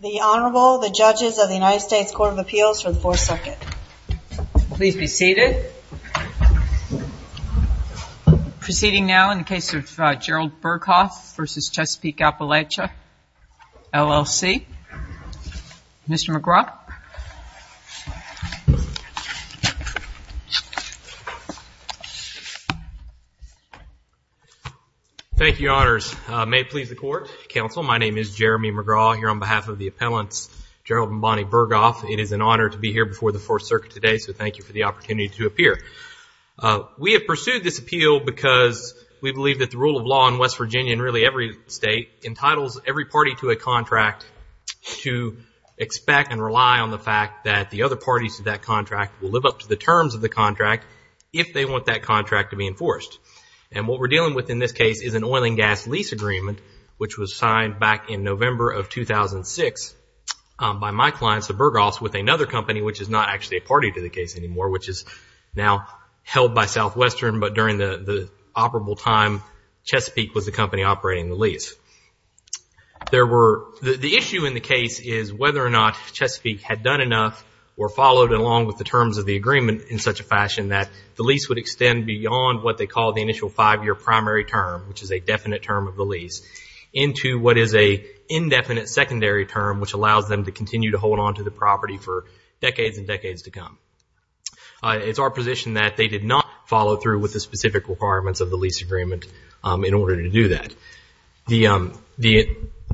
The Honorable, the Judges of the United States Court of Appeals for the 4th Circuit. Please be seated. Proceeding now in the case of Gerold Berghoff v. Chesapeake Appalachia, LLC. Mr. McGraw. Thank you, Your Honors. May it please the Court, Counsel, my name is Jeremy McGraw here on behalf of the appellants Gerold and Bonnie Berghoff. It is an honor to be here before the 4th Circuit today, so thank you for the opportunity to appear. We have pursued this appeal because we believe that the rule of law in West Virginia and really every state entitles every party to a contract to expect and rely on the fact that the other parties to that contract will live up to the terms of the contract if they want that contract to be enforced. And what we're dealing with in this case is an oil and gas lease agreement which was signed back in November of 2006 by my client, Mr. Berghoff, with another company which is not actually a party to the case anymore, which is now held by Southwestern, but during the operable time, Chesapeake was the company operating the lease. The issue in the case is whether or not Chesapeake had done enough or followed along with the terms of the agreement in such a fashion that the lease would extend beyond what they call the initial five-year primary term, which is a definite term of the lease, into what is an indefinite secondary term which allows them to continue to hold on to the property for decades and decades to come. It's our position that they did not follow through with the specific requirements of the lease agreement in order to do that. The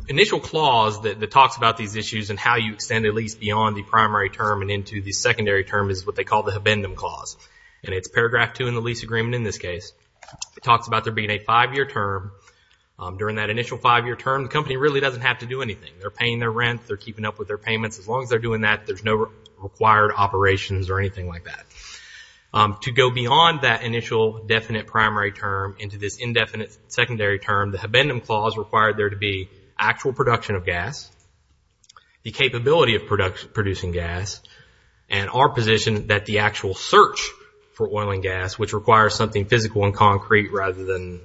initial clause that talks about these issues and how you extend a lease beyond the primary term and into the secondary term is what they call the Habendum Clause, and it's paragraph 2 in the lease agreement in this case. It talks about there being a five-year term. During that initial five-year term, the company really doesn't have to do anything. They're paying their rent. They're keeping up with their payments. As long as they're doing that, there's no required operations or anything like that. To go beyond that initial definite primary term into this indefinite secondary term, the Habendum Clause required there to be actual production of gas, the capability of producing gas, and our position that the actual search for oil and gas, which requires something physical and concrete rather than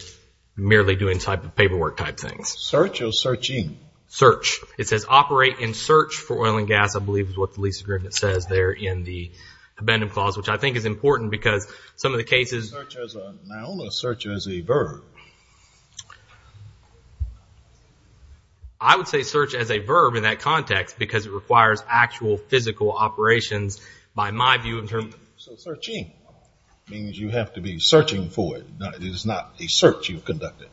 merely doing paperwork type things. Search or searching? Search. It says operate and search for oil and gas, I believe is what the lease agreement says there in the Habendum Clause, which I think is important because some of the cases… Search as a noun or search as a verb? I would say search as a verb in that context because it requires actual physical operations by my view. So searching means you have to be searching for it. It is not a search you've conducted.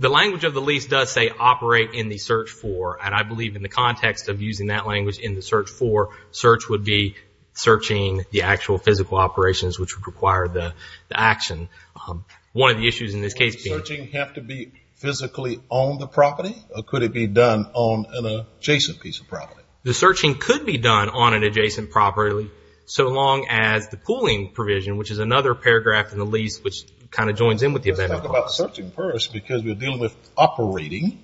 The language of the lease does say operate in the search for, and I believe in the context of using that language in the search for, search would be searching the actual physical operations which would require the action. One of the issues in this case being… Does searching have to be physically on the property, or could it be done on an adjacent piece of property? The searching could be done on an adjacent property so long as the pooling provision, which is another paragraph in the lease which kind of joins in with the Habendum Clause. Let's talk about searching first because we're dealing with operating.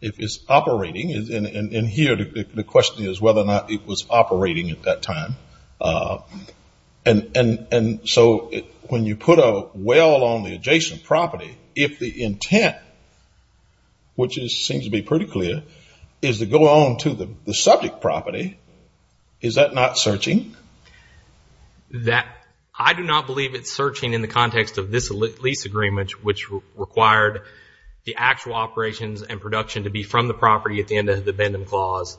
If it's operating, and here the question is whether or not it was operating at that time. And so when you put a well on the adjacent property, if the intent, which seems to be pretty clear, is to go on to the subject property, is that not searching? I do not believe it's searching in the context of this lease agreement which required the actual operations and production to be from the property at the end of the Habendum Clause.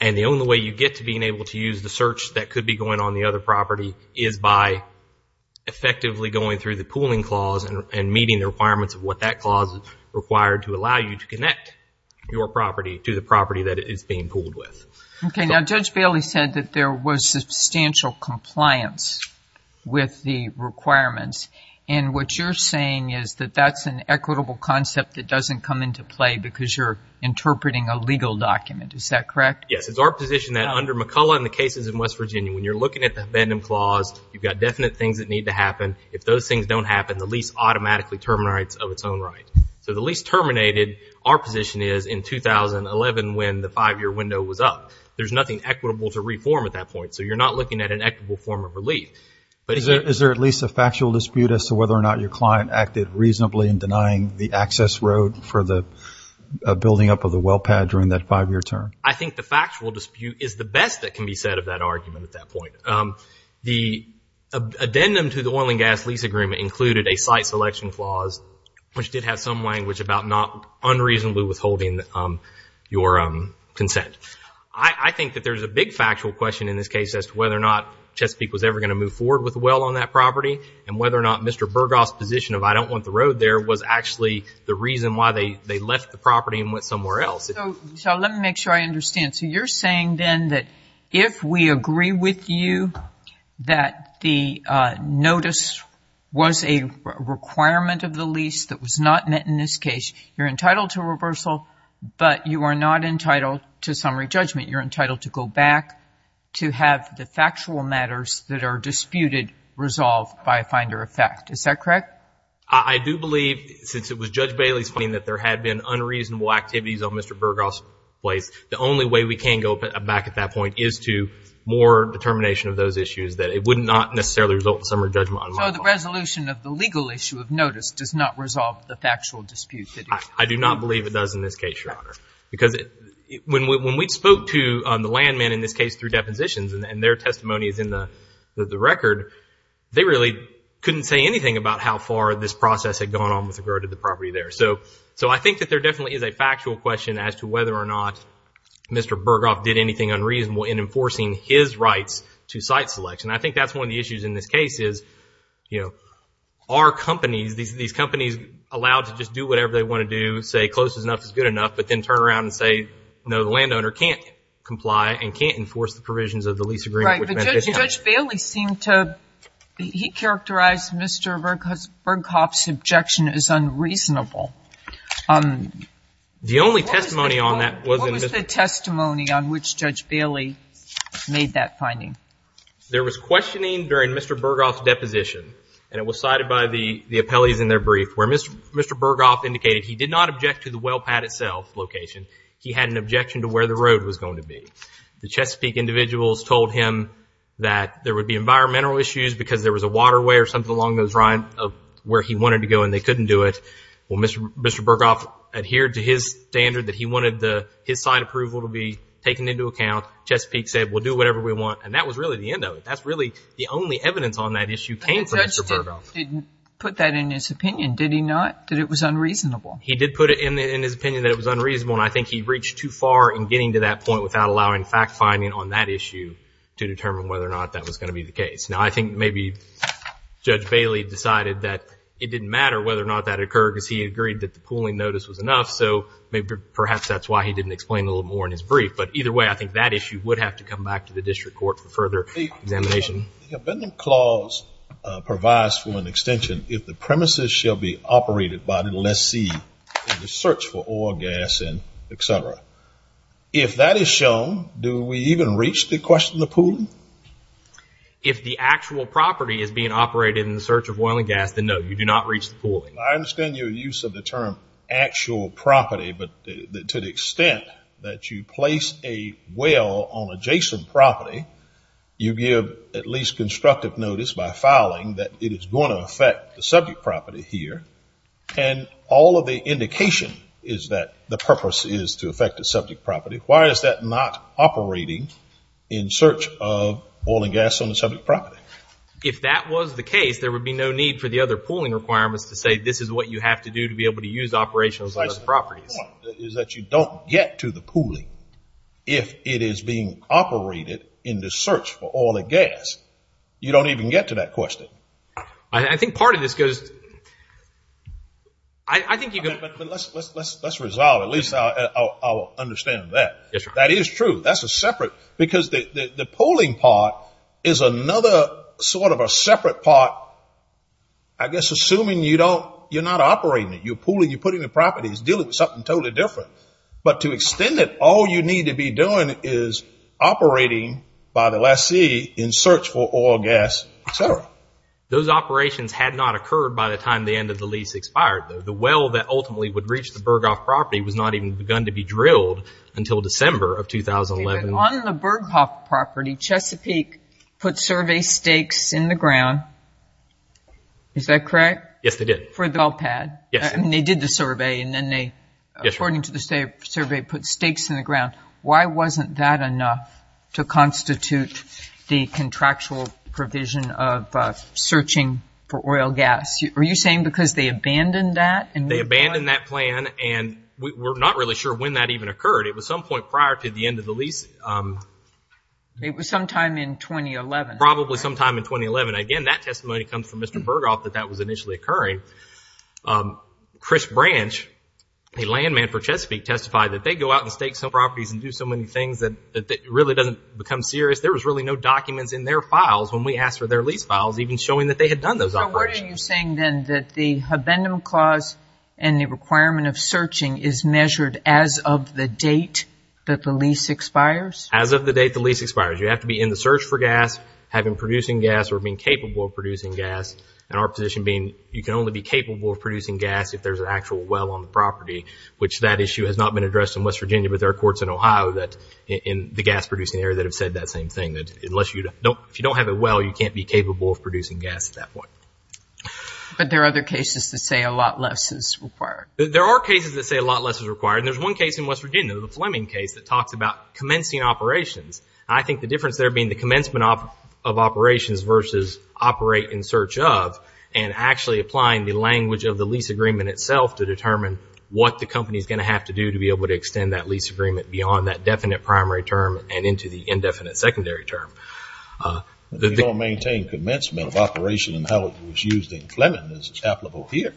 And the only way you get to being able to use the search that could be going on the other property is by effectively going through the pooling clause and meeting the requirements of what that clause required to allow you to connect your property to the property that it is being pooled with. Okay, now Judge Bailey said that there was substantial compliance with the requirements. And what you're saying is that that's an equitable concept that doesn't come into play because you're interpreting a legal document, is that correct? Yes, it's our position that under McCullough and the cases in West Virginia, when you're looking at the Habendum Clause, you've got definite things that need to happen. If those things don't happen, the lease automatically terminates of its own right. So the lease terminated, our position is in 2011 when the five-year window was up. There's nothing equitable to reform at that point, so you're not looking at an equitable form of relief. Is there at least a factual dispute as to whether or not your client acted reasonably in denying the access road for the building up of the well pad during that five-year term? I think the factual dispute is the best that can be said of that argument at that point. The addendum to the oil and gas lease agreement included a site selection clause, which did have some language about not unreasonably withholding your consent. I think that there's a big factual question in this case as to whether or not Chesapeake was ever going to move forward with the well on that property and whether or not Mr. Burghoff's position of I don't want the road there was actually the reason why they left the property and went somewhere else. So let me make sure I understand. So you're saying then that if we agree with you that the notice was a requirement of the lease that was not met in this case, you're entitled to reversal, but you are not entitled to summary judgment. You're entitled to go back to have the factual matters that are disputed resolved by a finder of fact. Is that correct? I do believe since it was Judge Bailey's finding that there had been unreasonable activities on Mr. Burghoff's place, the only way we can go back at that point is to more determination of those issues, that it would not necessarily result in summary judgment. So the resolution of the legal issue of notice does not resolve the factual dispute? I do not believe it does in this case, Your Honor, because when we spoke to the landman in this case through depositions and their testimony is in the record, they really couldn't say anything about how far this process had gone on with regard to the property there. So I think that there definitely is a factual question as to whether or not Mr. Burghoff did anything unreasonable in enforcing his rights to site selection. I think that's one of the issues in this case is, you know, are companies, these companies allowed to just do whatever they want to do, say close enough is good enough, but then turn around and say, no, the landowner can't comply and can't enforce the provisions of the lease agreement. All right, but Judge Bailey seemed to, he characterized Mr. Burghoff's objection as unreasonable. The only testimony on that was... What was the testimony on which Judge Bailey made that finding? There was questioning during Mr. Burghoff's deposition, and it was cited by the appellees in their brief, where Mr. Burghoff indicated he did not object to the well pad itself location, he had an objection to where the road was going to be. The Chesapeake individuals told him that there would be environmental issues because there was a waterway or something along those lines where he wanted to go and they couldn't do it. Well, Mr. Burghoff adhered to his standard that he wanted his site approval to be taken into account. Chesapeake said, well, do whatever we want, and that was really the end of it. That's really the only evidence on that issue came from Mr. Burghoff. But the judge didn't put that in his opinion, did he not, that it was unreasonable? He did put it in his opinion that it was unreasonable, and I think he reached too far in getting to that point without allowing fact-finding on that issue to determine whether or not that was going to be the case. Now, I think maybe Judge Bailey decided that it didn't matter whether or not that occurred because he agreed that the pooling notice was enough, so perhaps that's why he didn't explain a little more in his brief. But either way, I think that issue would have to come back to the district court for further examination. The Abandonment Clause provides for an extension, if the premises shall be operated by the lessee in the search for oil, gas, and et cetera. If that is shown, do we even reach the question of pooling? If the actual property is being operated in the search of oil and gas, then no, you do not reach the pooling. I understand your use of the term actual property, but to the extent that you place a well on adjacent property, you give at least constructive notice by filing that it is going to affect the subject property here, and all of the indication is that the purpose is to affect the subject property. Why is that not operating in search of oil and gas on the subject property? If that was the case, there would be no need for the other pooling requirements to say this is what you have to do to be able to use operational properties. The point is that you don't get to the pooling if it is being operated in the search for oil and gas. You don't even get to that question. I think part of this goes to – I think you could – Let's resolve. At least I'll understand that. That is true. That's a separate – because the pooling part is another sort of a separate part, I guess assuming you don't – you're not operating it. You're pooling, you're putting the properties, dealing with something totally different. But to extend it, all you need to be doing is operating by the lessee in search for oil, gas, et cetera. Those operations had not occurred by the time the end of the lease expired. The well that ultimately would reach the Berghoff property was not even begun to be drilled until December of 2011. On the Berghoff property, Chesapeake put survey stakes in the ground. Is that correct? Yes, they did. For the well pad? Yes. And they did the survey, and then they, according to the survey, put stakes in the ground. Why wasn't that enough to constitute the contractual provision of searching for oil, gas? Are you saying because they abandoned that? They abandoned that plan, and we're not really sure when that even occurred. It was some point prior to the end of the lease. It was sometime in 2011. Probably sometime in 2011. Again, that testimony comes from Mr. Berghoff that that was initially occurring. Chris Branch, a land man for Chesapeake, testified that they go out and stake some properties and do so many things that it really doesn't become serious. There was really no documents in their files when we asked for their lease files even showing that they had done those operations. So what are you saying, then, that the Habendum Clause and the requirement of searching is measured as of the date that the lease expires? As of the date the lease expires. You have to be in the search for gas, having producing gas, or being capable of producing gas. Our position being you can only be capable of producing gas if there's an actual well on the property, which that issue has not been addressed in West Virginia, but there are courts in Ohio in the gas-producing area that have said that same thing. If you don't have a well, you can't be capable of producing gas at that point. But there are other cases that say a lot less is required. There are cases that say a lot less is required. There's one case in West Virginia, the Fleming case, that talks about commencing operations. I think the difference there being the commencement of operations versus operate in search of and actually applying the language of the lease agreement itself to determine what the company is going to have to do to be able to extend that lease agreement beyond that definite primary term and into the indefinite secondary term. You don't maintain commencement of operation in how it was used in Fleming as is applicable here.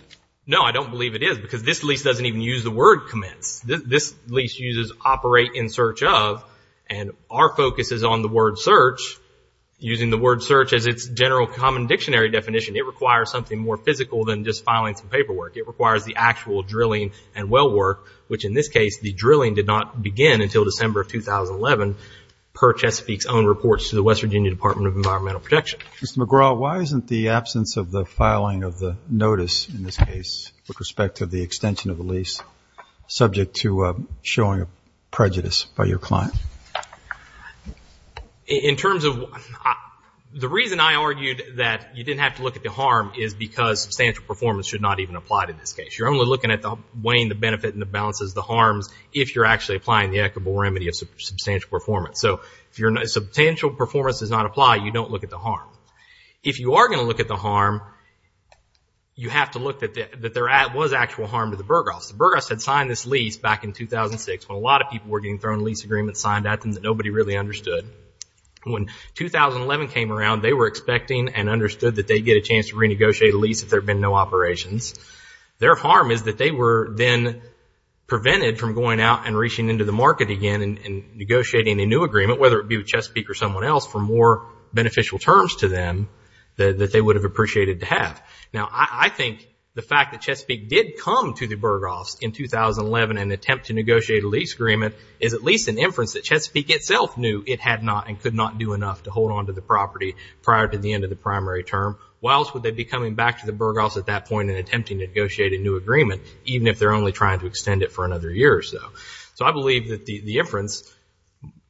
No, I don't believe it is because this lease doesn't even use the word commence. This lease uses operate in search of, and our focus is on the word search. Using the word search as its general common dictionary definition, it requires something more physical than just filing some paperwork. It requires the actual drilling and well work, which in this case, the drilling did not begin until December of 2011 per Chesapeake's own reports to the West Virginia Department of Environmental Protection. Mr. McGraw, why isn't the absence of the filing of the notice in this case, with respect to the extension of the lease, subject to showing prejudice by your client? The reason I argued that you didn't have to look at the harm is because substantial performance should not even apply to this case. You're only looking at weighing the benefit and the balances, the harms, if you're actually applying the equitable remedy of substantial performance. If substantial performance does not apply, you don't look at the harm. If you are going to look at the harm, you have to look that there was actual harm to the Burgos. The Burgos had signed this lease back in 2006, when a lot of people were getting thrown a lease agreement signed at them that nobody really understood. When 2011 came around, they were expecting and understood that they'd get a chance to renegotiate a lease if there had been no operations. Their harm is that they were then prevented from going out and reaching into the market again and negotiating a new agreement, whether it be with Chesapeake or someone else, to offer more beneficial terms to them that they would have appreciated to have. Now, I think the fact that Chesapeake did come to the Burgos in 2011 and attempt to negotiate a lease agreement is at least an inference that Chesapeake itself knew it had not and could not do enough to hold onto the property prior to the end of the primary term. Why else would they be coming back to the Burgos at that point and attempting to negotiate a new agreement, even if they're only trying to extend it for another year or so? So I believe that the inference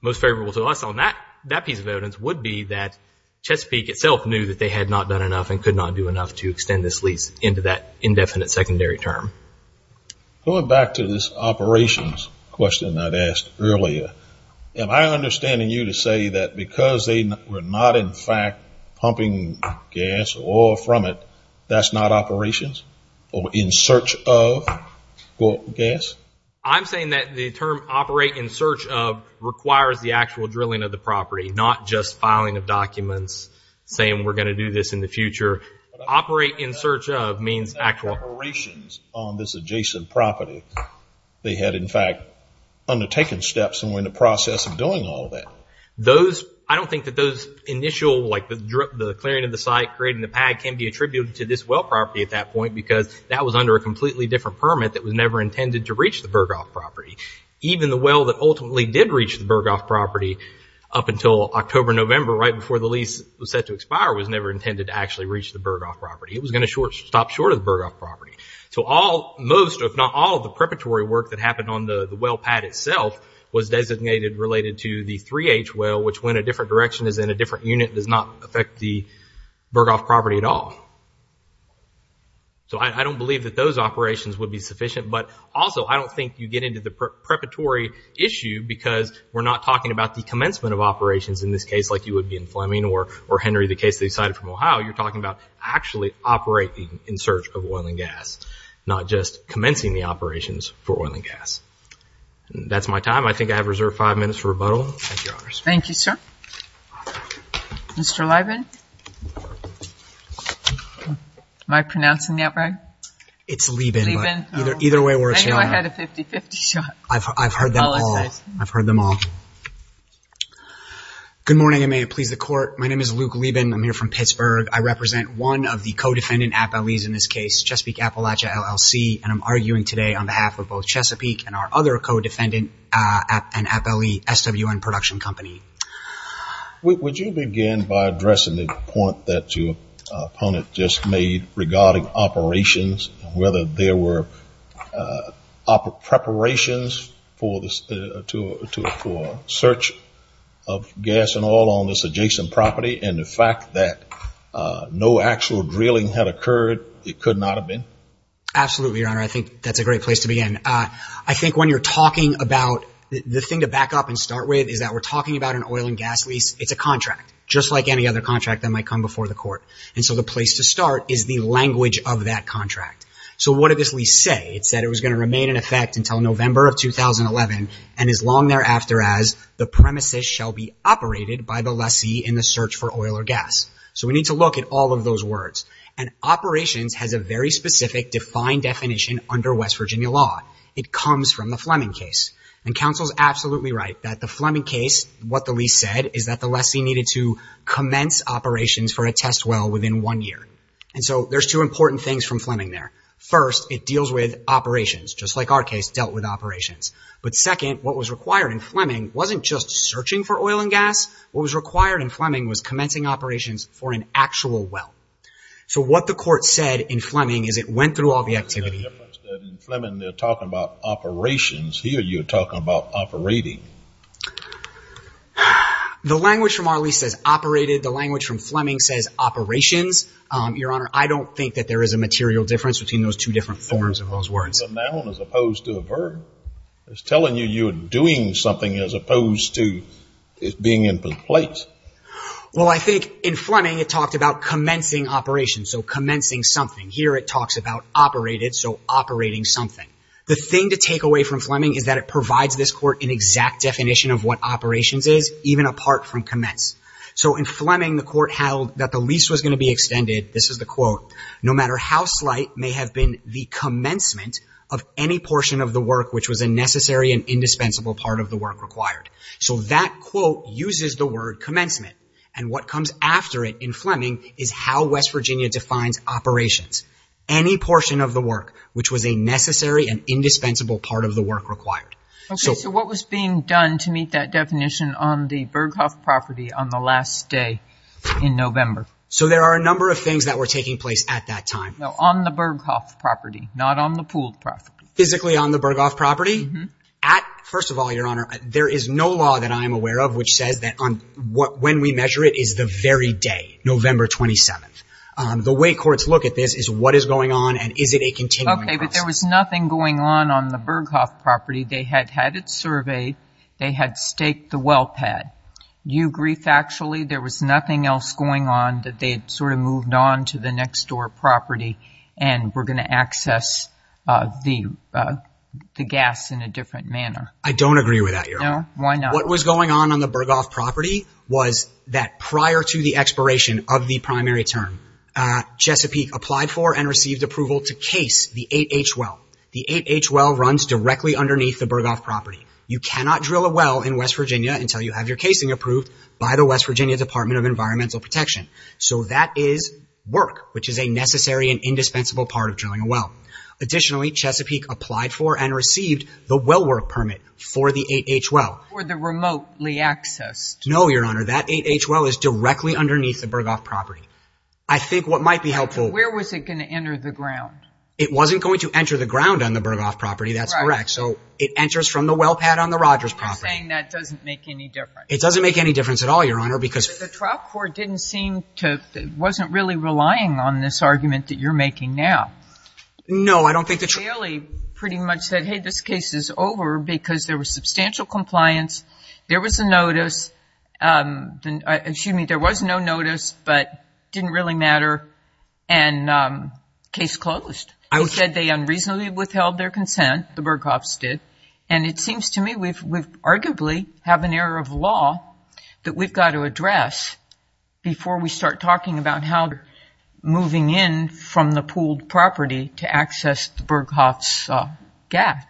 most favorable to us on that piece of evidence would be that Chesapeake itself knew that they had not done enough and could not do enough to extend this lease into that indefinite secondary term. Going back to this operations question I'd asked earlier, am I understanding you to say that because they were not, in fact, pumping gas or oil from it, that's not operations or in search of gas? I'm saying that the term operate in search of requires the actual drilling of the property, not just filing of documents saying we're going to do this in the future. Operate in search of means actual operations on this adjacent property. They had, in fact, undertaken steps and were in the process of doing all that. Those, I don't think that those initial, like the clearing of the site, creating the pad can be attributed to this well property at that point because that was under a completely different permit that was never intended to reach the Burghoff property. Even the well that ultimately did reach the Burghoff property up until October, November, right before the lease was set to expire, was never intended to actually reach the Burghoff property. It was going to stop short of the Burghoff property. So most, if not all, of the preparatory work that happened on the well pad itself was designated related to the 3H well, which when a different direction is in a different unit does not affect the Burghoff property at all. So I don't believe that those operations would be sufficient, but also I don't think you get into the preparatory issue because we're not talking about the commencement of operations in this case like you would be in Fleming or Henry, the case they cited from Ohio. You're talking about actually operating in search of oil and gas, not just commencing the operations for oil and gas. That's my time. Thank you, Your Honors. Thank you, sir. Mr. Liban? Am I pronouncing that right? It's Liban. Liban. Either way works, Your Honor. I knew I had a 50-50 shot. I've heard them all. I apologize. I've heard them all. Good morning, and may it please the Court. My name is Luke Liban. I'm here from Pittsburgh. I represent one of the co-defendant appellees in this case, Chesapeake Appalachia LLC, and I'm arguing today on behalf of both Chesapeake and our other co-defendant appellee, SWN Production Company. Would you begin by addressing the point that your opponent just made regarding operations, whether there were preparations for search of gas and oil on this adjacent property, and the fact that no actual drilling had occurred, it could not have been? Absolutely, Your Honor. I think that's a great place to begin. I think when you're talking about—the thing to back up and start with is that we're talking about an oil and gas lease. It's a contract, just like any other contract that might come before the Court, and so the place to start is the language of that contract. So what did this lease say? It said it was going to remain in effect until November of 2011, and as long thereafter as the premises shall be operated by the lessee in the search for oil or gas. So we need to look at all of those words, and operations has a very specific defined definition under West Virginia law. It comes from the Fleming case, and counsel's absolutely right that the Fleming case, what the lease said, is that the lessee needed to commence operations for a test well within one year. And so there's two important things from Fleming there. First, it deals with operations, just like our case dealt with operations. But second, what was required in Fleming wasn't just searching for oil and gas. What was required in Fleming was commencing operations for an actual well. So what the Court said in Fleming is it went through all the activity. In Fleming they're talking about operations. Here you're talking about operating. The language from our lease says operated. The language from Fleming says operations. Your Honor, I don't think that there is a material difference between those two different forms of those words. It's a noun as opposed to a verb. It's telling you you're doing something as opposed to it being in place. Well, I think in Fleming it talked about commencing operations, so commencing something. Here it talks about operated, so operating something. The thing to take away from Fleming is that it provides this Court an exact definition of what operations is, even apart from commence. So in Fleming the Court held that the lease was going to be extended, this is the quote, no matter how slight may have been the commencement of any portion of the work which was a necessary and indispensable part of the work required. So that quote uses the word commencement, and what comes after it in Fleming is how West Virginia defines operations. Any portion of the work which was a necessary and indispensable part of the work required. Okay, so what was being done to meet that definition on the Berghoff property on the last day in November? So there are a number of things that were taking place at that time. No, on the Berghoff property, not on the Poole property. Physically on the Berghoff property? First of all, Your Honor, there is no law that I am aware of which says that when we measure it is the very day, November 27th. The way courts look at this is what is going on and is it a continuing process. Okay, but there was nothing going on on the Berghoff property. They had had it surveyed. They had staked the well pad. You agree factually there was nothing else going on that they had sort of moved on to the next door property and were going to access the gas in a different manner? I don't agree with that, Your Honor. No? Why not? What was going on on the Berghoff property was that prior to the expiration of the primary term, Chesapeake applied for and received approval to case the 8H well. The 8H well runs directly underneath the Berghoff property. You cannot drill a well in West Virginia until you have your casing approved by the West Virginia Department of Environmental Protection. So that is work, which is a necessary and indispensable part of drilling a well. Additionally, Chesapeake applied for and received the well work permit for the 8H well. For the remotely accessed. No, Your Honor. That 8H well is directly underneath the Berghoff property. I think what might be helpful. Where was it going to enter the ground? It wasn't going to enter the ground on the Berghoff property. That's correct. So it enters from the well pad on the Rogers property. You're saying that doesn't make any difference. It doesn't make any difference at all, Your Honor, because The trial court didn't seem to, wasn't really relying on this argument that you're making now. No, I don't think that's Bailey pretty much said, hey, this case is over because there was substantial compliance. There was a notice. Excuse me, there was no notice, but didn't really matter. And case closed. He said they unreasonably withheld their consent. The Berghoffs did. And it seems to me we've arguably have an error of law that we've got to address before we start talking about how moving in from the pooled property to access the Berghoffs gas.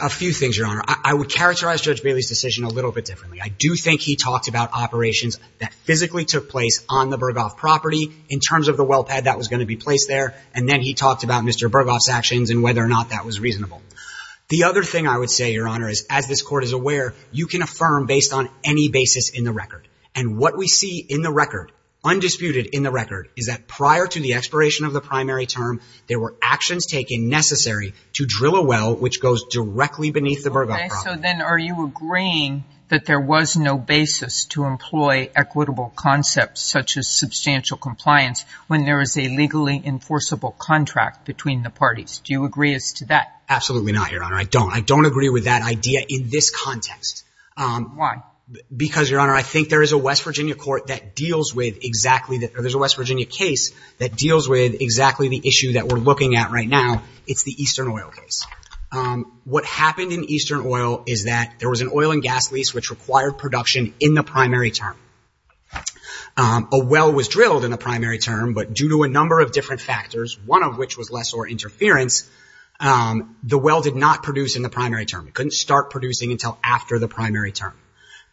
A few things, Your Honor. I would characterize Judge Bailey's decision a little bit differently. I do think he talked about operations that physically took place on the Berghoff property in terms of the well pad that was going to be placed there. And then he talked about Mr. Berghoff's actions and whether or not that was reasonable. The other thing I would say, Your Honor, is as this court is aware, you can affirm based on any basis in the record. And what we see in the record, undisputed in the record, is that prior to the expiration of the primary term, there were actions taken necessary to drill a well which goes directly beneath the Berghoff property. So then are you agreeing that there was no basis to employ equitable concepts such as substantial compliance when there is a legally enforceable contract between the parties? Do you agree as to that? Absolutely not, Your Honor. I don't. I don't agree with that idea in this context. Why? Because, Your Honor, I think there is a West Virginia court that deals with exactly that. There's a West Virginia case that deals with exactly the issue that we're looking at right now. It's the Eastern Oil case. What happened in Eastern Oil is that there was an oil and gas lease which required production in the primary term. A well was drilled in the primary term, but due to a number of different factors, one of which was lessor interference, the well did not produce in the primary term. It couldn't start producing until after the primary term.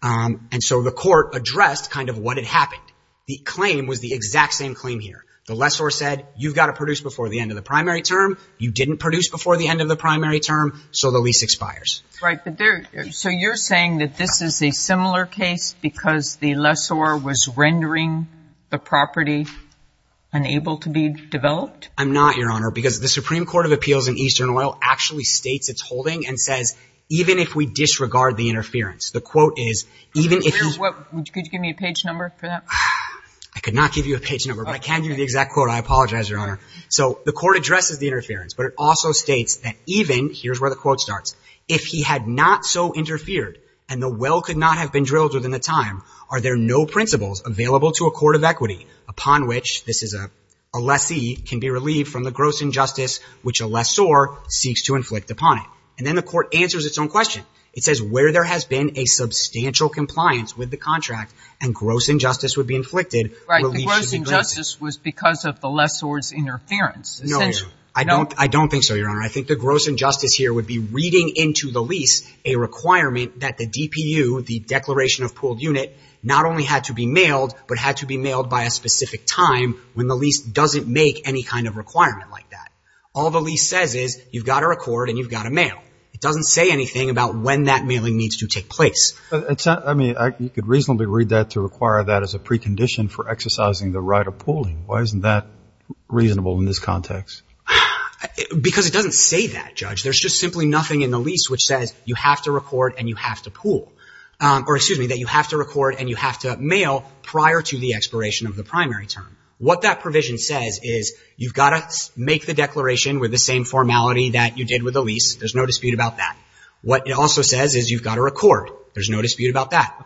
And so the court addressed kind of what had happened. The claim was the exact same claim here. The lessor said, You've got to produce before the end of the primary term. You didn't produce before the end of the primary term, so the lease expires. Right. So you're saying that this is a similar case because the lessor was rendering the property unable to be developed? I'm not, Your Honor, because the Supreme Court of Appeals in Eastern Oil actually states its holding and says, Even if we disregard the interference, the quote is, Could you give me a page number for that? I could not give you a page number, but I can give you the exact quote. I apologize, Your Honor. So the court addresses the interference, but it also states that even, here's where the quote starts, If he had not so interfered and the well could not have been drilled within the time, are there no principles available to a court of equity upon which, this is a lessee, can be relieved from the gross injustice which a lessor seeks to inflict upon it? And then the court answers its own question. It says where there has been a substantial compliance with the contract and gross injustice would be inflicted, relief should be granted. So the gross injustice was because of the lessor's interference? No, Your Honor. I don't think so, Your Honor. I think the gross injustice here would be reading into the lease a requirement that the DPU, the declaration of pooled unit, not only had to be mailed, but had to be mailed by a specific time when the lease doesn't make any kind of requirement like that. All the lease says is you've got to record and you've got to mail. It doesn't say anything about when that mailing needs to take place. I mean, you could reasonably read that to require that as a precondition for exercising the right of pooling. Why isn't that reasonable in this context? Because it doesn't say that, Judge. There's just simply nothing in the lease which says you have to record and you have to pool, or excuse me, that you have to record and you have to mail prior to the expiration of the primary term. What that provision says is you've got to make the declaration with the same formality that you did with the lease. There's no dispute about that. What it also says is you've got to record. There's no dispute about that.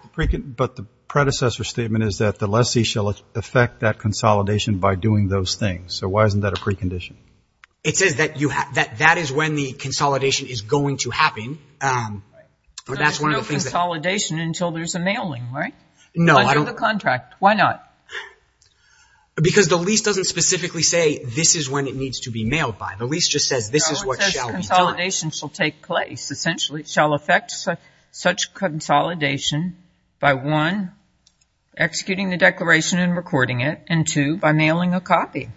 But the predecessor statement is that the lessee shall effect that consolidation by doing those things. So why isn't that a precondition? It says that that is when the consolidation is going to happen. So there's no consolidation until there's a mailing, right? No. Until the contract. Why not? Because the lease doesn't specifically say this is when it needs to be mailed by. The lease just says this is what shall be done. The consolidation shall take place. Essentially, it shall effect such consolidation by, one, executing the declaration and recording it, and, two, by mailing a copy.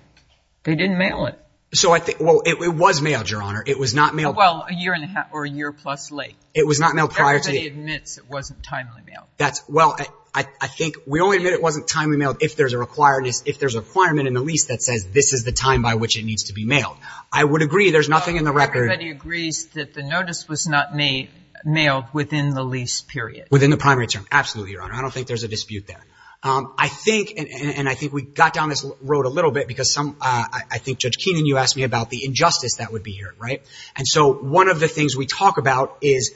They didn't mail it. So I think, well, it was mailed, Your Honor. It was not mailed. Well, a year and a half or a year plus late. It was not mailed prior to. Everybody admits it wasn't timely mailed. That's, well, I think we only admit it wasn't timely mailed if there's a requirement in the lease that says this is the time by which it needs to be mailed. I would agree there's nothing in the record. Everybody agrees that the notice was not mailed within the lease period. Within the primary term. Absolutely, Your Honor. I don't think there's a dispute there. I think, and I think we got down this road a little bit because some, I think, Judge Keenan, you asked me about the injustice that would be here, right? And so one of the things we talk about is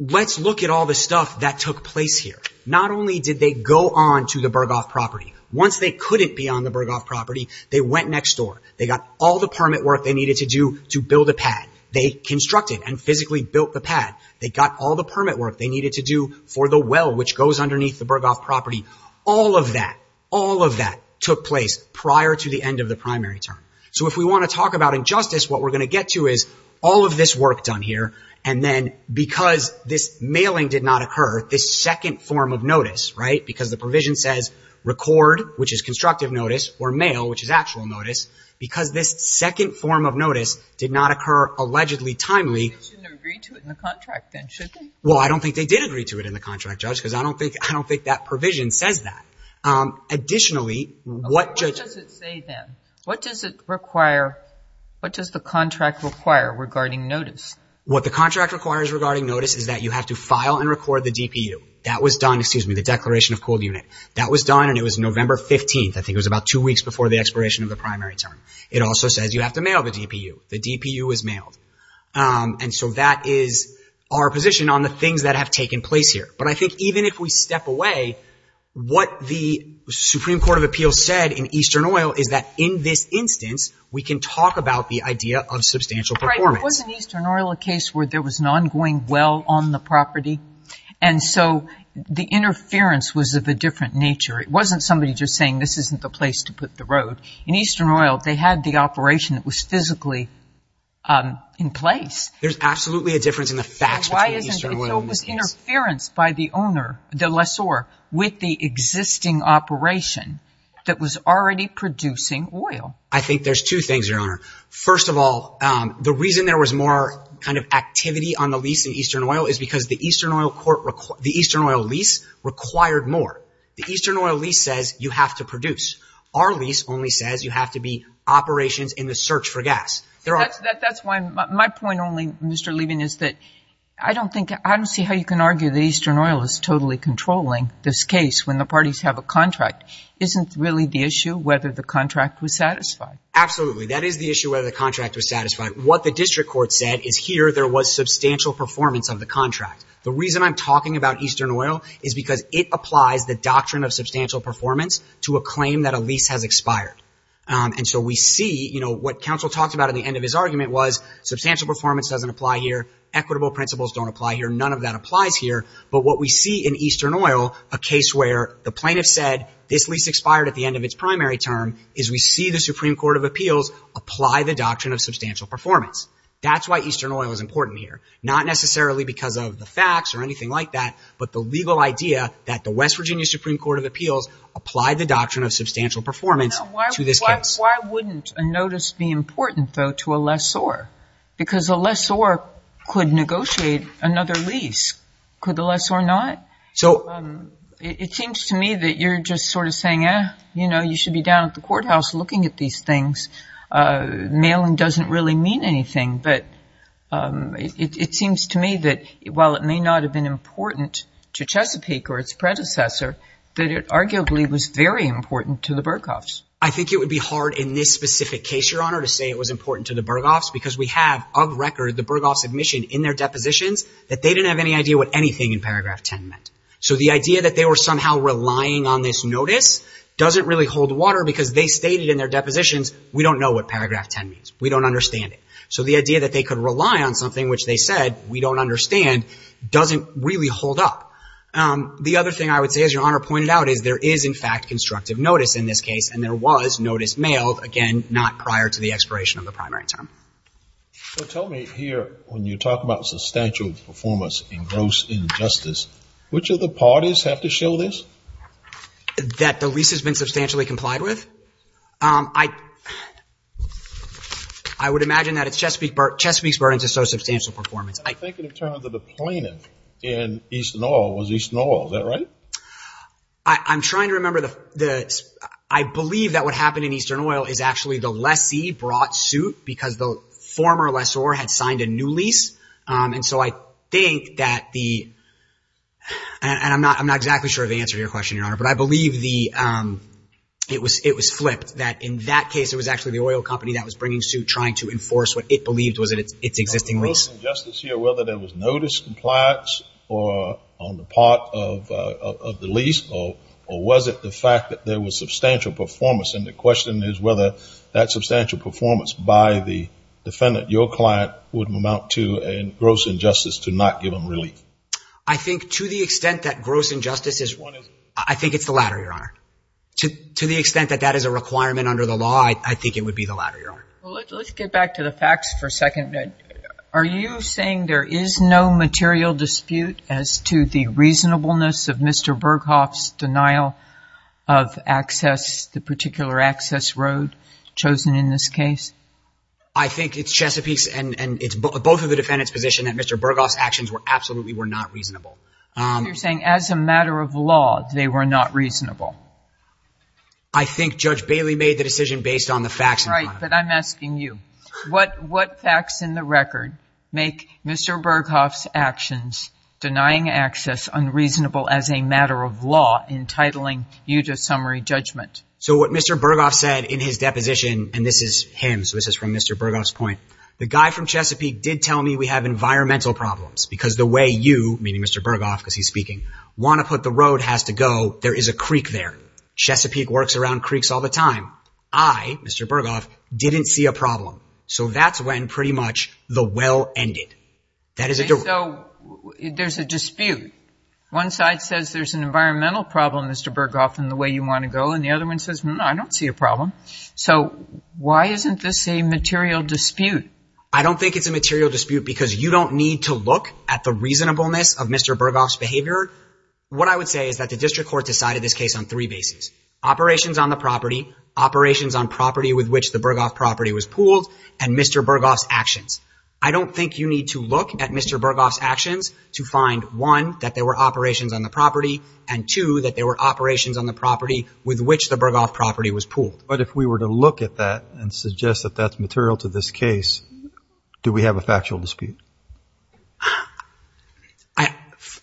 let's look at all the stuff that took place here. Not only did they go on to the Burghoff property. Once they couldn't be on the Burghoff property, they went next door. They got all the permit work they needed to do to build a pad. They constructed and physically built the pad. They got all the permit work they needed to do for the well which goes underneath the Burghoff property. All of that, all of that took place prior to the end of the primary term. So if we want to talk about injustice, what we're going to get to is all of this work done here and then because this mailing did not occur, this second form of notice, right? because this second form of notice did not occur allegedly timely. They shouldn't have agreed to it in the contract then, should they? Well, I don't think they did agree to it in the contract, Judge, because I don't think that provision says that. Additionally, what does it say then? What does it require? What does the contract require regarding notice? What the contract requires regarding notice is that you have to file and record the DPU. That was done, excuse me, the declaration of cold unit. That was done and it was November 15th. I think it was about two weeks before the expiration of the primary term. It also says you have to mail the DPU. The DPU is mailed. And so that is our position on the things that have taken place here. But I think even if we step away, what the Supreme Court of Appeals said in Eastern Oil is that in this instance, we can talk about the idea of substantial performance. Wasn't Eastern Oil a case where there was an ongoing well on the property? And so the interference was of a different nature. It wasn't somebody just saying this isn't the place to put the road. In Eastern Oil, they had the operation that was physically in place. There's absolutely a difference in the facts between Eastern Oil and these things. So it was interference by the owner, the lessor, with the existing operation that was already producing oil. I think there's two things, Your Honor. First of all, the reason there was more kind of activity on the lease in Eastern Oil is because the Eastern Oil lease required more. The Eastern Oil lease says you have to produce. Our lease only says you have to be operations in the search for gas. That's why my point only, Mr. Levin, is that I don't see how you can argue that Eastern Oil is totally controlling this case when the parties have a contract. Isn't really the issue whether the contract was satisfied? Absolutely. That is the issue, whether the contract was satisfied. What the district court said is here there was substantial performance of the contract. The reason I'm talking about Eastern Oil is because it applies the doctrine of substantial performance to a claim that a lease has expired. And so we see, you know, what counsel talked about at the end of his argument was substantial performance doesn't apply here. Equitable principles don't apply here. None of that applies here. But what we see in Eastern Oil, a case where the plaintiff said this lease expired at the end of its primary term, is we see the Supreme Court of Appeals apply the doctrine of substantial performance. That's why Eastern Oil is important here. Not necessarily because of the facts or anything like that, but the legal idea that the West Virginia Supreme Court of Appeals applied the doctrine of substantial performance to this case. Why wouldn't a notice be important, though, to a lessor? Because a lessor could negotiate another lease. Could the lessor not? It seems to me that you're just sort of saying, eh, you know, you should be down at the courthouse looking at these things. Mailing doesn't really mean anything. But it seems to me that while it may not have been important to Chesapeake or its predecessor, that it arguably was very important to the Berghoffs. I think it would be hard in this specific case, Your Honor, to say it was important to the Berghoffs because we have, of record, the Berghoffs' admission in their depositions that they didn't have any idea what anything in paragraph 10 meant. So the idea that they were somehow relying on this notice doesn't really hold water because they stated in their depositions, we don't know what paragraph 10 means. We don't understand it. So the idea that they could rely on something which they said we don't understand doesn't really hold up. The other thing I would say, as Your Honor pointed out, is there is, in fact, constructive notice in this case, and there was notice mailed, again, not prior to the expiration of the primary term. So tell me here, when you talk about substantial performance in gross injustice, which of the parties have to show this? That the lease has been substantially complied with? I would imagine that it's Chesapeake's burden to show substantial performance. I think it would turn out that the plaintiff in Eastern Oil was Eastern Oil. Is that right? I'm trying to remember. I believe that what happened in Eastern Oil is actually the lessee brought suit because the former lessor had signed a new lease. And so I think that the—and I'm not exactly sure of the answer to your question, Your Honor, but I believe it was flipped, that in that case, it was actually the oil company that was bringing suit, trying to enforce what it believed was its existing lease. On gross injustice here, whether there was notice complied on the part of the lease, or was it the fact that there was substantial performance? And the question is whether that substantial performance by the defendant, your client, would amount to a gross injustice to not give him relief. I think to the extent that gross injustice is—I think it's the latter, Your Honor. To the extent that that is a requirement under the law, I think it would be the latter, Your Honor. Let's get back to the facts for a second. Are you saying there is no material dispute as to the reasonableness of Mr. Berghoff's denial of access, the particular access road chosen in this case? I think it's Chesapeake's and it's both of the defendant's position that Mr. Berghoff's actions absolutely were not reasonable. You're saying as a matter of law, they were not reasonable. I think Judge Bailey made the decision based on the facts, Your Honor. All right, but I'm asking you, what facts in the record make Mr. Berghoff's actions, denying access unreasonable as a matter of law, entitling you to summary judgment? So what Mr. Berghoff said in his deposition, and this is him, so this is from Mr. Berghoff's point, the guy from Chesapeake did tell me we have environmental problems because the way you, meaning Mr. Berghoff because he's speaking, want to put the road has to go, there is a creek there. Chesapeake works around creeks all the time. I, Mr. Berghoff, didn't see a problem. So that's when pretty much the well ended. So there's a dispute. One side says there's an environmental problem, Mr. Berghoff, in the way you want to go, and the other one says, no, I don't see a problem. So why isn't this a material dispute? I don't think it's a material dispute because you don't need to look at the reasonableness of Mr. Berghoff's behavior. What I would say is that the district court decided this case on three bases, operations on the property, operations on property with which the Berghoff property was pooled, and Mr. Berghoff's actions. I don't think you need to look at Mr. Berghoff's actions to find, one, that there were operations on the property, and, two, that there were operations on the property with which the Berghoff property was pooled. But if we were to look at that and suggest that that's material to this case, do we have a factual dispute?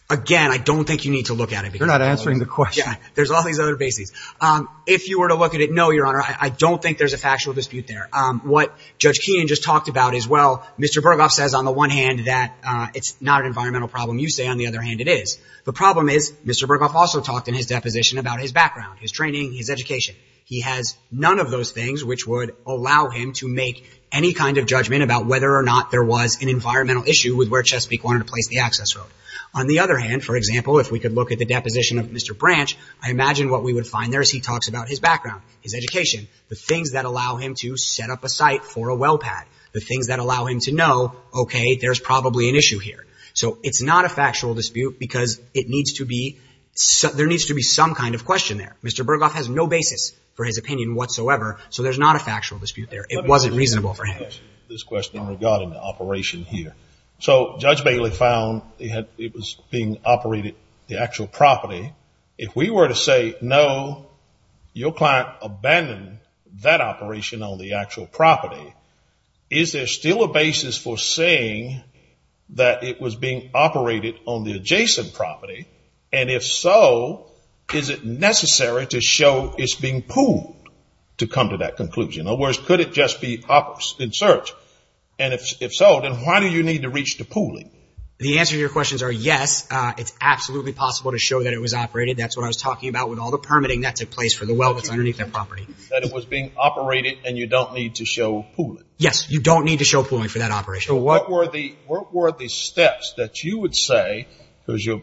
Again, I don't think you need to look at it. You're not answering the question. There's all these other bases. If you were to look at it, no, Your Honor, I don't think there's a factual dispute there. What Judge Keenan just talked about is, well, Mr. Berghoff says on the one hand that it's not an environmental problem. You say on the other hand it is. The problem is Mr. Berghoff also talked in his deposition about his background, his training, his education. He has none of those things which would allow him to make any kind of judgment about whether or not there was an environmental issue with where Chesapeake wanted to place the access road. On the other hand, for example, if we could look at the deposition of Mr. Branch, I imagine what we would find there is he talks about his background, his education, the things that allow him to set up a site for a well pad, the things that allow him to know, okay, there's probably an issue here. So it's not a factual dispute because it needs to be – there needs to be some kind of question there. Mr. Berghoff has no basis for his opinion whatsoever. So there's not a factual dispute there. It wasn't reasonable for him. Regarding the operation here. So Judge Bailey found it was being operated, the actual property. If we were to say, no, your client abandoned that operation on the actual property, is there still a basis for saying that it was being operated on the adjacent property? And if so, is it necessary to show it's being pooled to come to that conclusion? Or could it just be in search? And if so, then why do you need to reach the pooling? The answer to your questions are yes, it's absolutely possible to show that it was operated. That's what I was talking about with all the permitting that took place for the well that's underneath the property. That it was being operated and you don't need to show pooling. Yes, you don't need to show pooling for that operation. So what were the steps that you would say, because your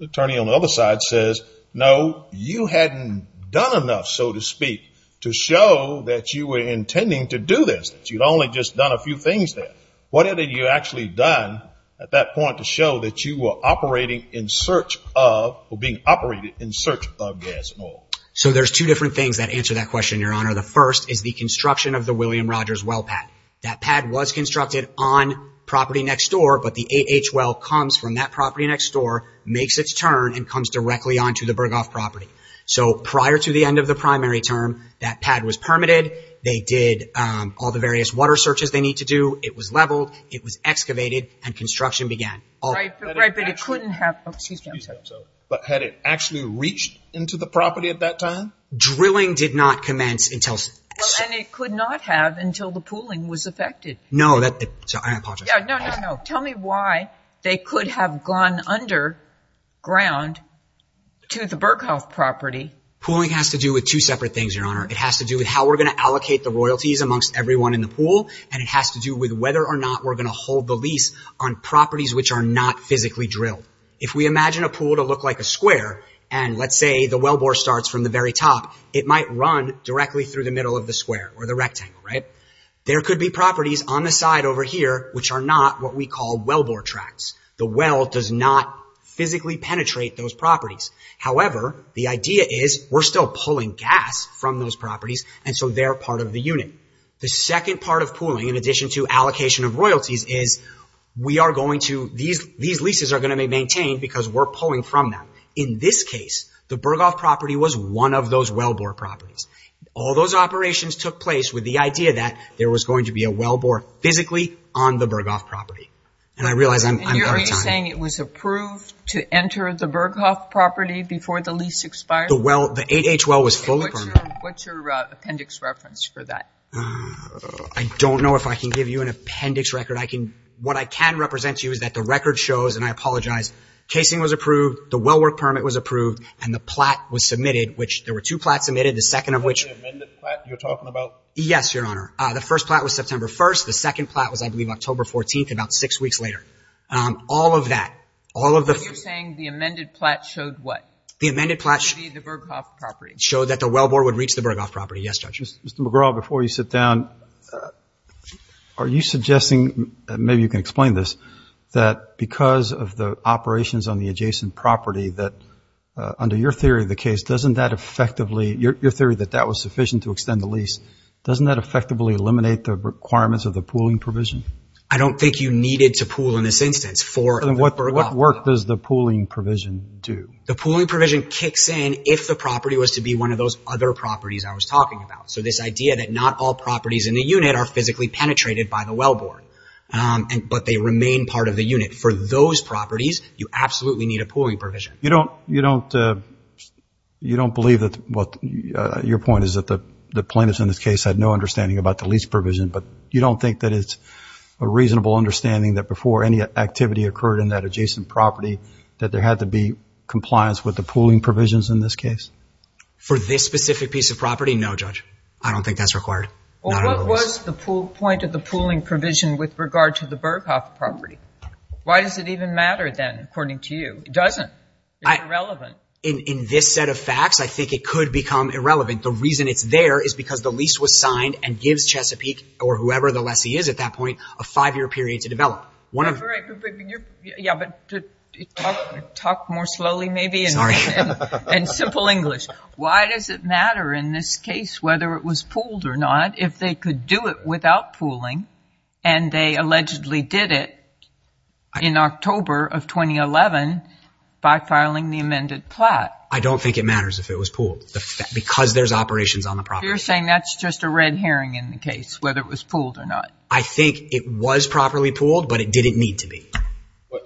attorney on the other side says, no, you hadn't done enough, so to speak, to show that you were intending to do this. That you'd only just done a few things there. What had you actually done at that point to show that you were operating in search of, or being operated in search of gas and oil? So there's two different things that answer that question, Your Honor. The first is the construction of the William Rogers well pad. That pad was constructed on property next door, but the AH well comes from that property next door, makes its turn, and comes directly onto the Burghoff property. So prior to the end of the primary term, that pad was permitted. They did all the various water searches they need to do. It was leveled. It was excavated, and construction began. Right, but it couldn't have. Excuse me. But had it actually reached into the property at that time? Drilling did not commence until. And it could not have until the pooling was affected. No, I apologize. No, no, no. Tell me why they could have gone underground to the Burghoff property. Pooling has to do with two separate things, Your Honor. It has to do with how we're going to allocate the royalties amongst everyone in the pool, and it has to do with whether or not we're going to hold the lease on properties which are not physically drilled. If we imagine a pool to look like a square, and let's say the wellbore starts from the very top, it might run directly through the middle of the square or the rectangle, right? There could be properties on the side over here which are not what we call wellbore tracts. The well does not physically penetrate those properties. However, the idea is we're still pulling gas from those properties, and so they're part of the unit. The second part of pooling, in addition to allocation of royalties, is we are going to – these leases are going to be maintained because we're pulling from them. In this case, the Burghoff property was one of those wellbore properties. All those operations took place with the idea that there was going to be a wellbore physically on the Burghoff property. And I realize I'm out of time. And you're saying it was approved to enter the Burghoff property before the lease expired? The 8H well was fully permitted. What's your appendix reference for that? I don't know if I can give you an appendix record. What I can represent to you is that the record shows, and I apologize, casing was approved, the wellwork permit was approved, and the plat was submitted, which there were two plats submitted. The second of which – The amended plat you're talking about? Yes, Your Honor. The first plat was September 1st. The second plat was, I believe, October 14th, about six weeks later. All of that, all of the – You're saying the amended plat showed what? The amended plat – The Burghoff property. Showed that the wellbore would reach the Burghoff property. Yes, Judge. Mr. McGraw, before you sit down, are you suggesting, maybe you can explain this, that because of the operations on the adjacent property that, under your theory of the case, doesn't that effectively – your theory that that was sufficient to extend the lease, doesn't that effectively eliminate the requirements of the pooling provision? I don't think you needed to pool in this instance for the Burghoff property. Then what work does the pooling provision do? The pooling provision kicks in if the property was to be one of those other properties I was talking about. So this idea that not all properties in the unit are physically penetrated by the wellbore, but they remain part of the unit. For those properties, you absolutely need a pooling provision. You don't believe that – your point is that the plaintiffs in this case had no understanding about the lease provision, but you don't think that it's a reasonable understanding that before any activity occurred in that adjacent property that there had to be compliance with the pooling provisions in this case? For this specific piece of property, no, Judge. I don't think that's required. Well, what was the point of the pooling provision with regard to the Burghoff property? Why does it even matter then, according to you? It doesn't. It's irrelevant. In this set of facts, I think it could become irrelevant. The reason it's there is because the lease was signed and gives Chesapeake, or whoever the lessee is at that point, a five-year period to develop. Yeah, but talk more slowly maybe and simple English. Why does it matter in this case whether it was pooled or not if they could do it without pooling and they allegedly did it in October of 2011 by filing the amended plat? I don't think it matters if it was pooled because there's operations on the property. You're saying that's just a red herring in the case, whether it was pooled or not. I think it was properly pooled, but it didn't need to be.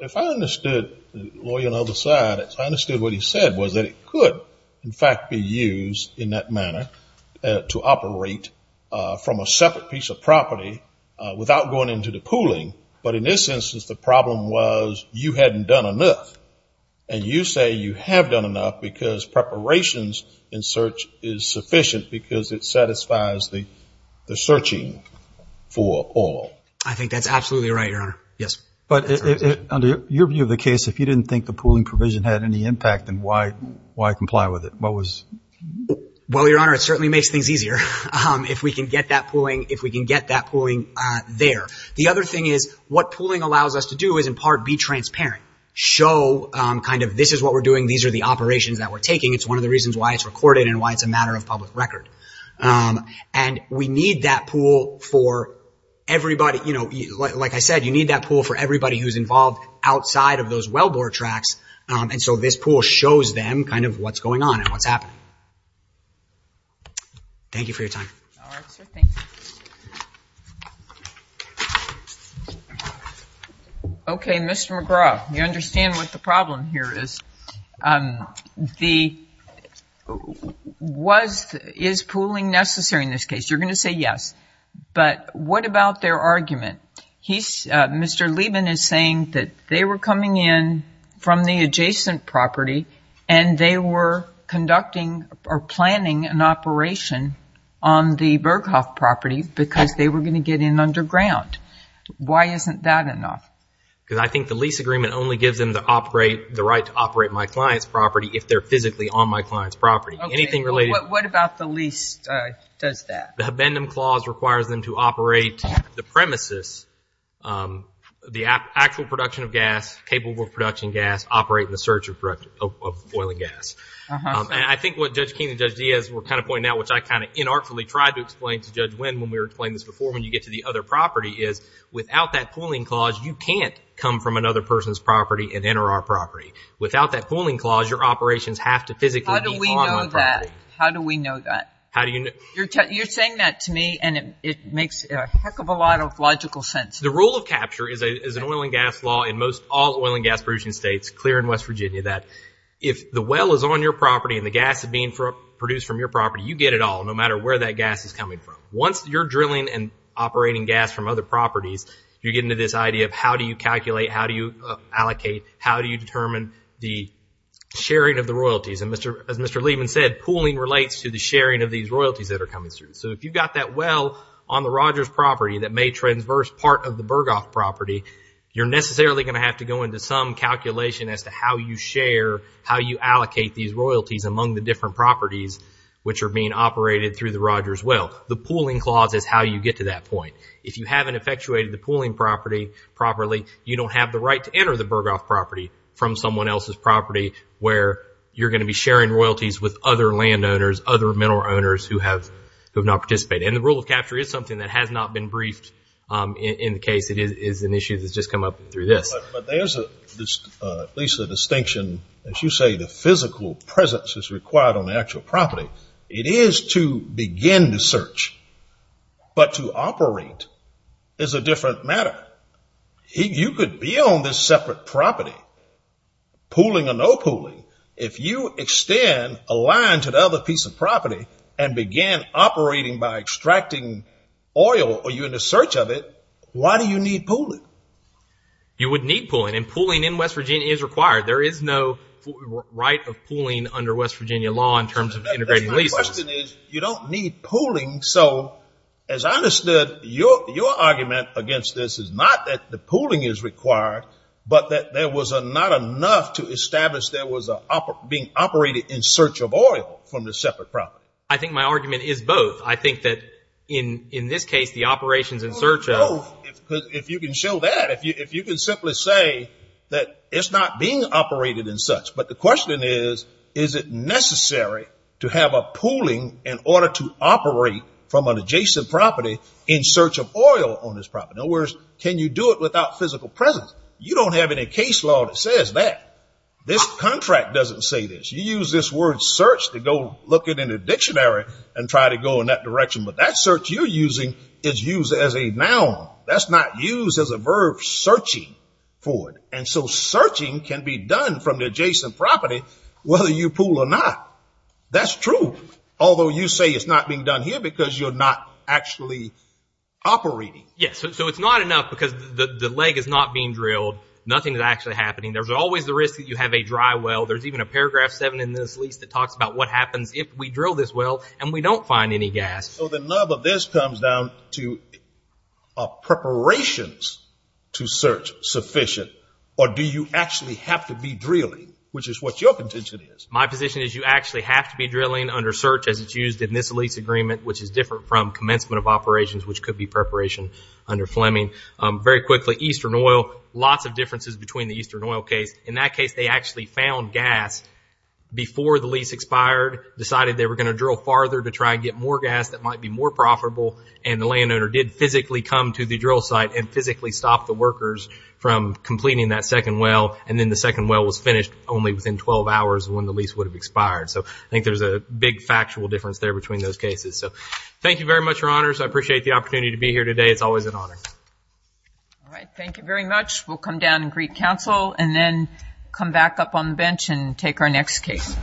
If I understood, the lawyer on the other side, if I understood what he said was that it could, in fact, be used in that manner to operate from a separate piece of property without going into the pooling. But in this instance, the problem was you hadn't done enough, and you say you have done enough because preparations in search is sufficient because it satisfies the searching for all. I think that's absolutely right, Your Honor. But under your view of the case, if you didn't think the pooling provision had any impact, then why comply with it? Well, Your Honor, it certainly makes things easier if we can get that pooling there. The other thing is what pooling allows us to do is, in part, be transparent, show this is what we're doing, these are the operations that we're taking. It's one of the reasons why it's recorded and why it's a matter of public record. And we need that pool for everybody. Like I said, you need that pool for everybody who's involved outside of those wellbore tracks, and so this pool shows them kind of what's going on and what's happening. Thank you for your time. All right, sir. Thank you. Okay, Mr. McGraw, you understand what the problem here is. Is pooling necessary in this case? You're going to say yes, but what about their argument? Mr. Liebman is saying that they were coming in from the adjacent property and they were conducting or planning an operation on the Berghoff property because they were going to get in underground. Why isn't that enough? Because I think the lease agreement only gives them the right to operate my client's property if they're physically on my client's property. What about the lease does that? The abendum clause requires them to operate the premises, the actual production of gas, capable of production gas, operate in the search of oil and gas. And I think what Judge Keene and Judge Diaz were kind of pointing out, which I kind of inartfully tried to explain to Judge Winn when we were explaining this before, when you get to the other property, is without that pooling clause, you can't come from another person's property and enter our property. Without that pooling clause, your operations have to physically be on my property. How do we know that? You're saying that to me, and it makes a heck of a lot of logical sense. The rule of capture is an oil and gas law in most all oil and gas producing states, clear in West Virginia, that if the well is on your property and the gas is being produced from your property, you get it all, no matter where that gas is coming from. Once you're drilling and operating gas from other properties, you get into this idea of how do you calculate, how do you allocate, how do you determine the sharing of the royalties. As Mr. Lehman said, pooling relates to the sharing of these royalties that are coming through. If you've got that well on the Rogers property that may transverse part of the Burghoff property, you're necessarily going to have to go into some calculation as to how you share, how you allocate these royalties among the different properties which are being operated through the Rogers well. The pooling clause is how you get to that point. If you haven't effectuated the pooling property properly, you don't have the right to enter the Burghoff property from someone else's property where you're going to be sharing royalties with other landowners, other mineral owners who have not participated. And the rule of capture is something that has not been briefed in the case. It is an issue that's just come up through this. But there's at least a distinction. As you say, the physical presence is required on the actual property. It is to begin the search, but to operate is a different matter. You could be on this separate property, pooling or no pooling. If you extend a line to the other piece of property and begin operating by extracting oil, are you in the search of it? Why do you need pooling? You would need pooling, and pooling in West Virginia is required. There is no right of pooling under West Virginia law in terms of integrated leases. My question is you don't need pooling. So, as I understood, your argument against this is not that the pooling is required, but that there was not enough to establish there was being operated in search of oil from the separate property. I think my argument is both. I think that in this case, the operations in search of— Well, both, if you can show that. If you can simply say that it's not being operated in such. But the question is, is it necessary to have a pooling in order to operate from an adjacent property in search of oil on this property? In other words, can you do it without physical presence? You don't have any case law that says that. This contract doesn't say this. You use this word search to go look in a dictionary and try to go in that direction. But that search you're using is used as a noun. That's not used as a verb searching for it. And so searching can be done from the adjacent property whether you pool or not. That's true, although you say it's not being done here because you're not actually operating. Yes, so it's not enough because the leg is not being drilled. Nothing is actually happening. There's always the risk that you have a dry well. There's even a paragraph 7 in this lease that talks about what happens if we drill this well and we don't find any gas. So the nub of this comes down to are preparations to search sufficient or do you actually have to be drilling, which is what your contention is? My position is you actually have to be drilling under search as it's used in this lease agreement, which is different from commencement of operations, which could be preparation under Fleming. Very quickly, Eastern Oil, lots of differences between the Eastern Oil case. In that case, they actually found gas before the lease expired, decided they were going to drill farther to try and get more gas that might be more profitable, and the landowner did physically come to the drill site and physically stop the workers from completing that second well. And then the second well was finished only within 12 hours when the lease would have expired. So I think there's a big factual difference there between those cases. So thank you very much, Your Honors. I appreciate the opportunity to be here today. It's always an honor. All right. Thank you very much. We'll come down and greet counsel and then come back up on the bench and take our next case.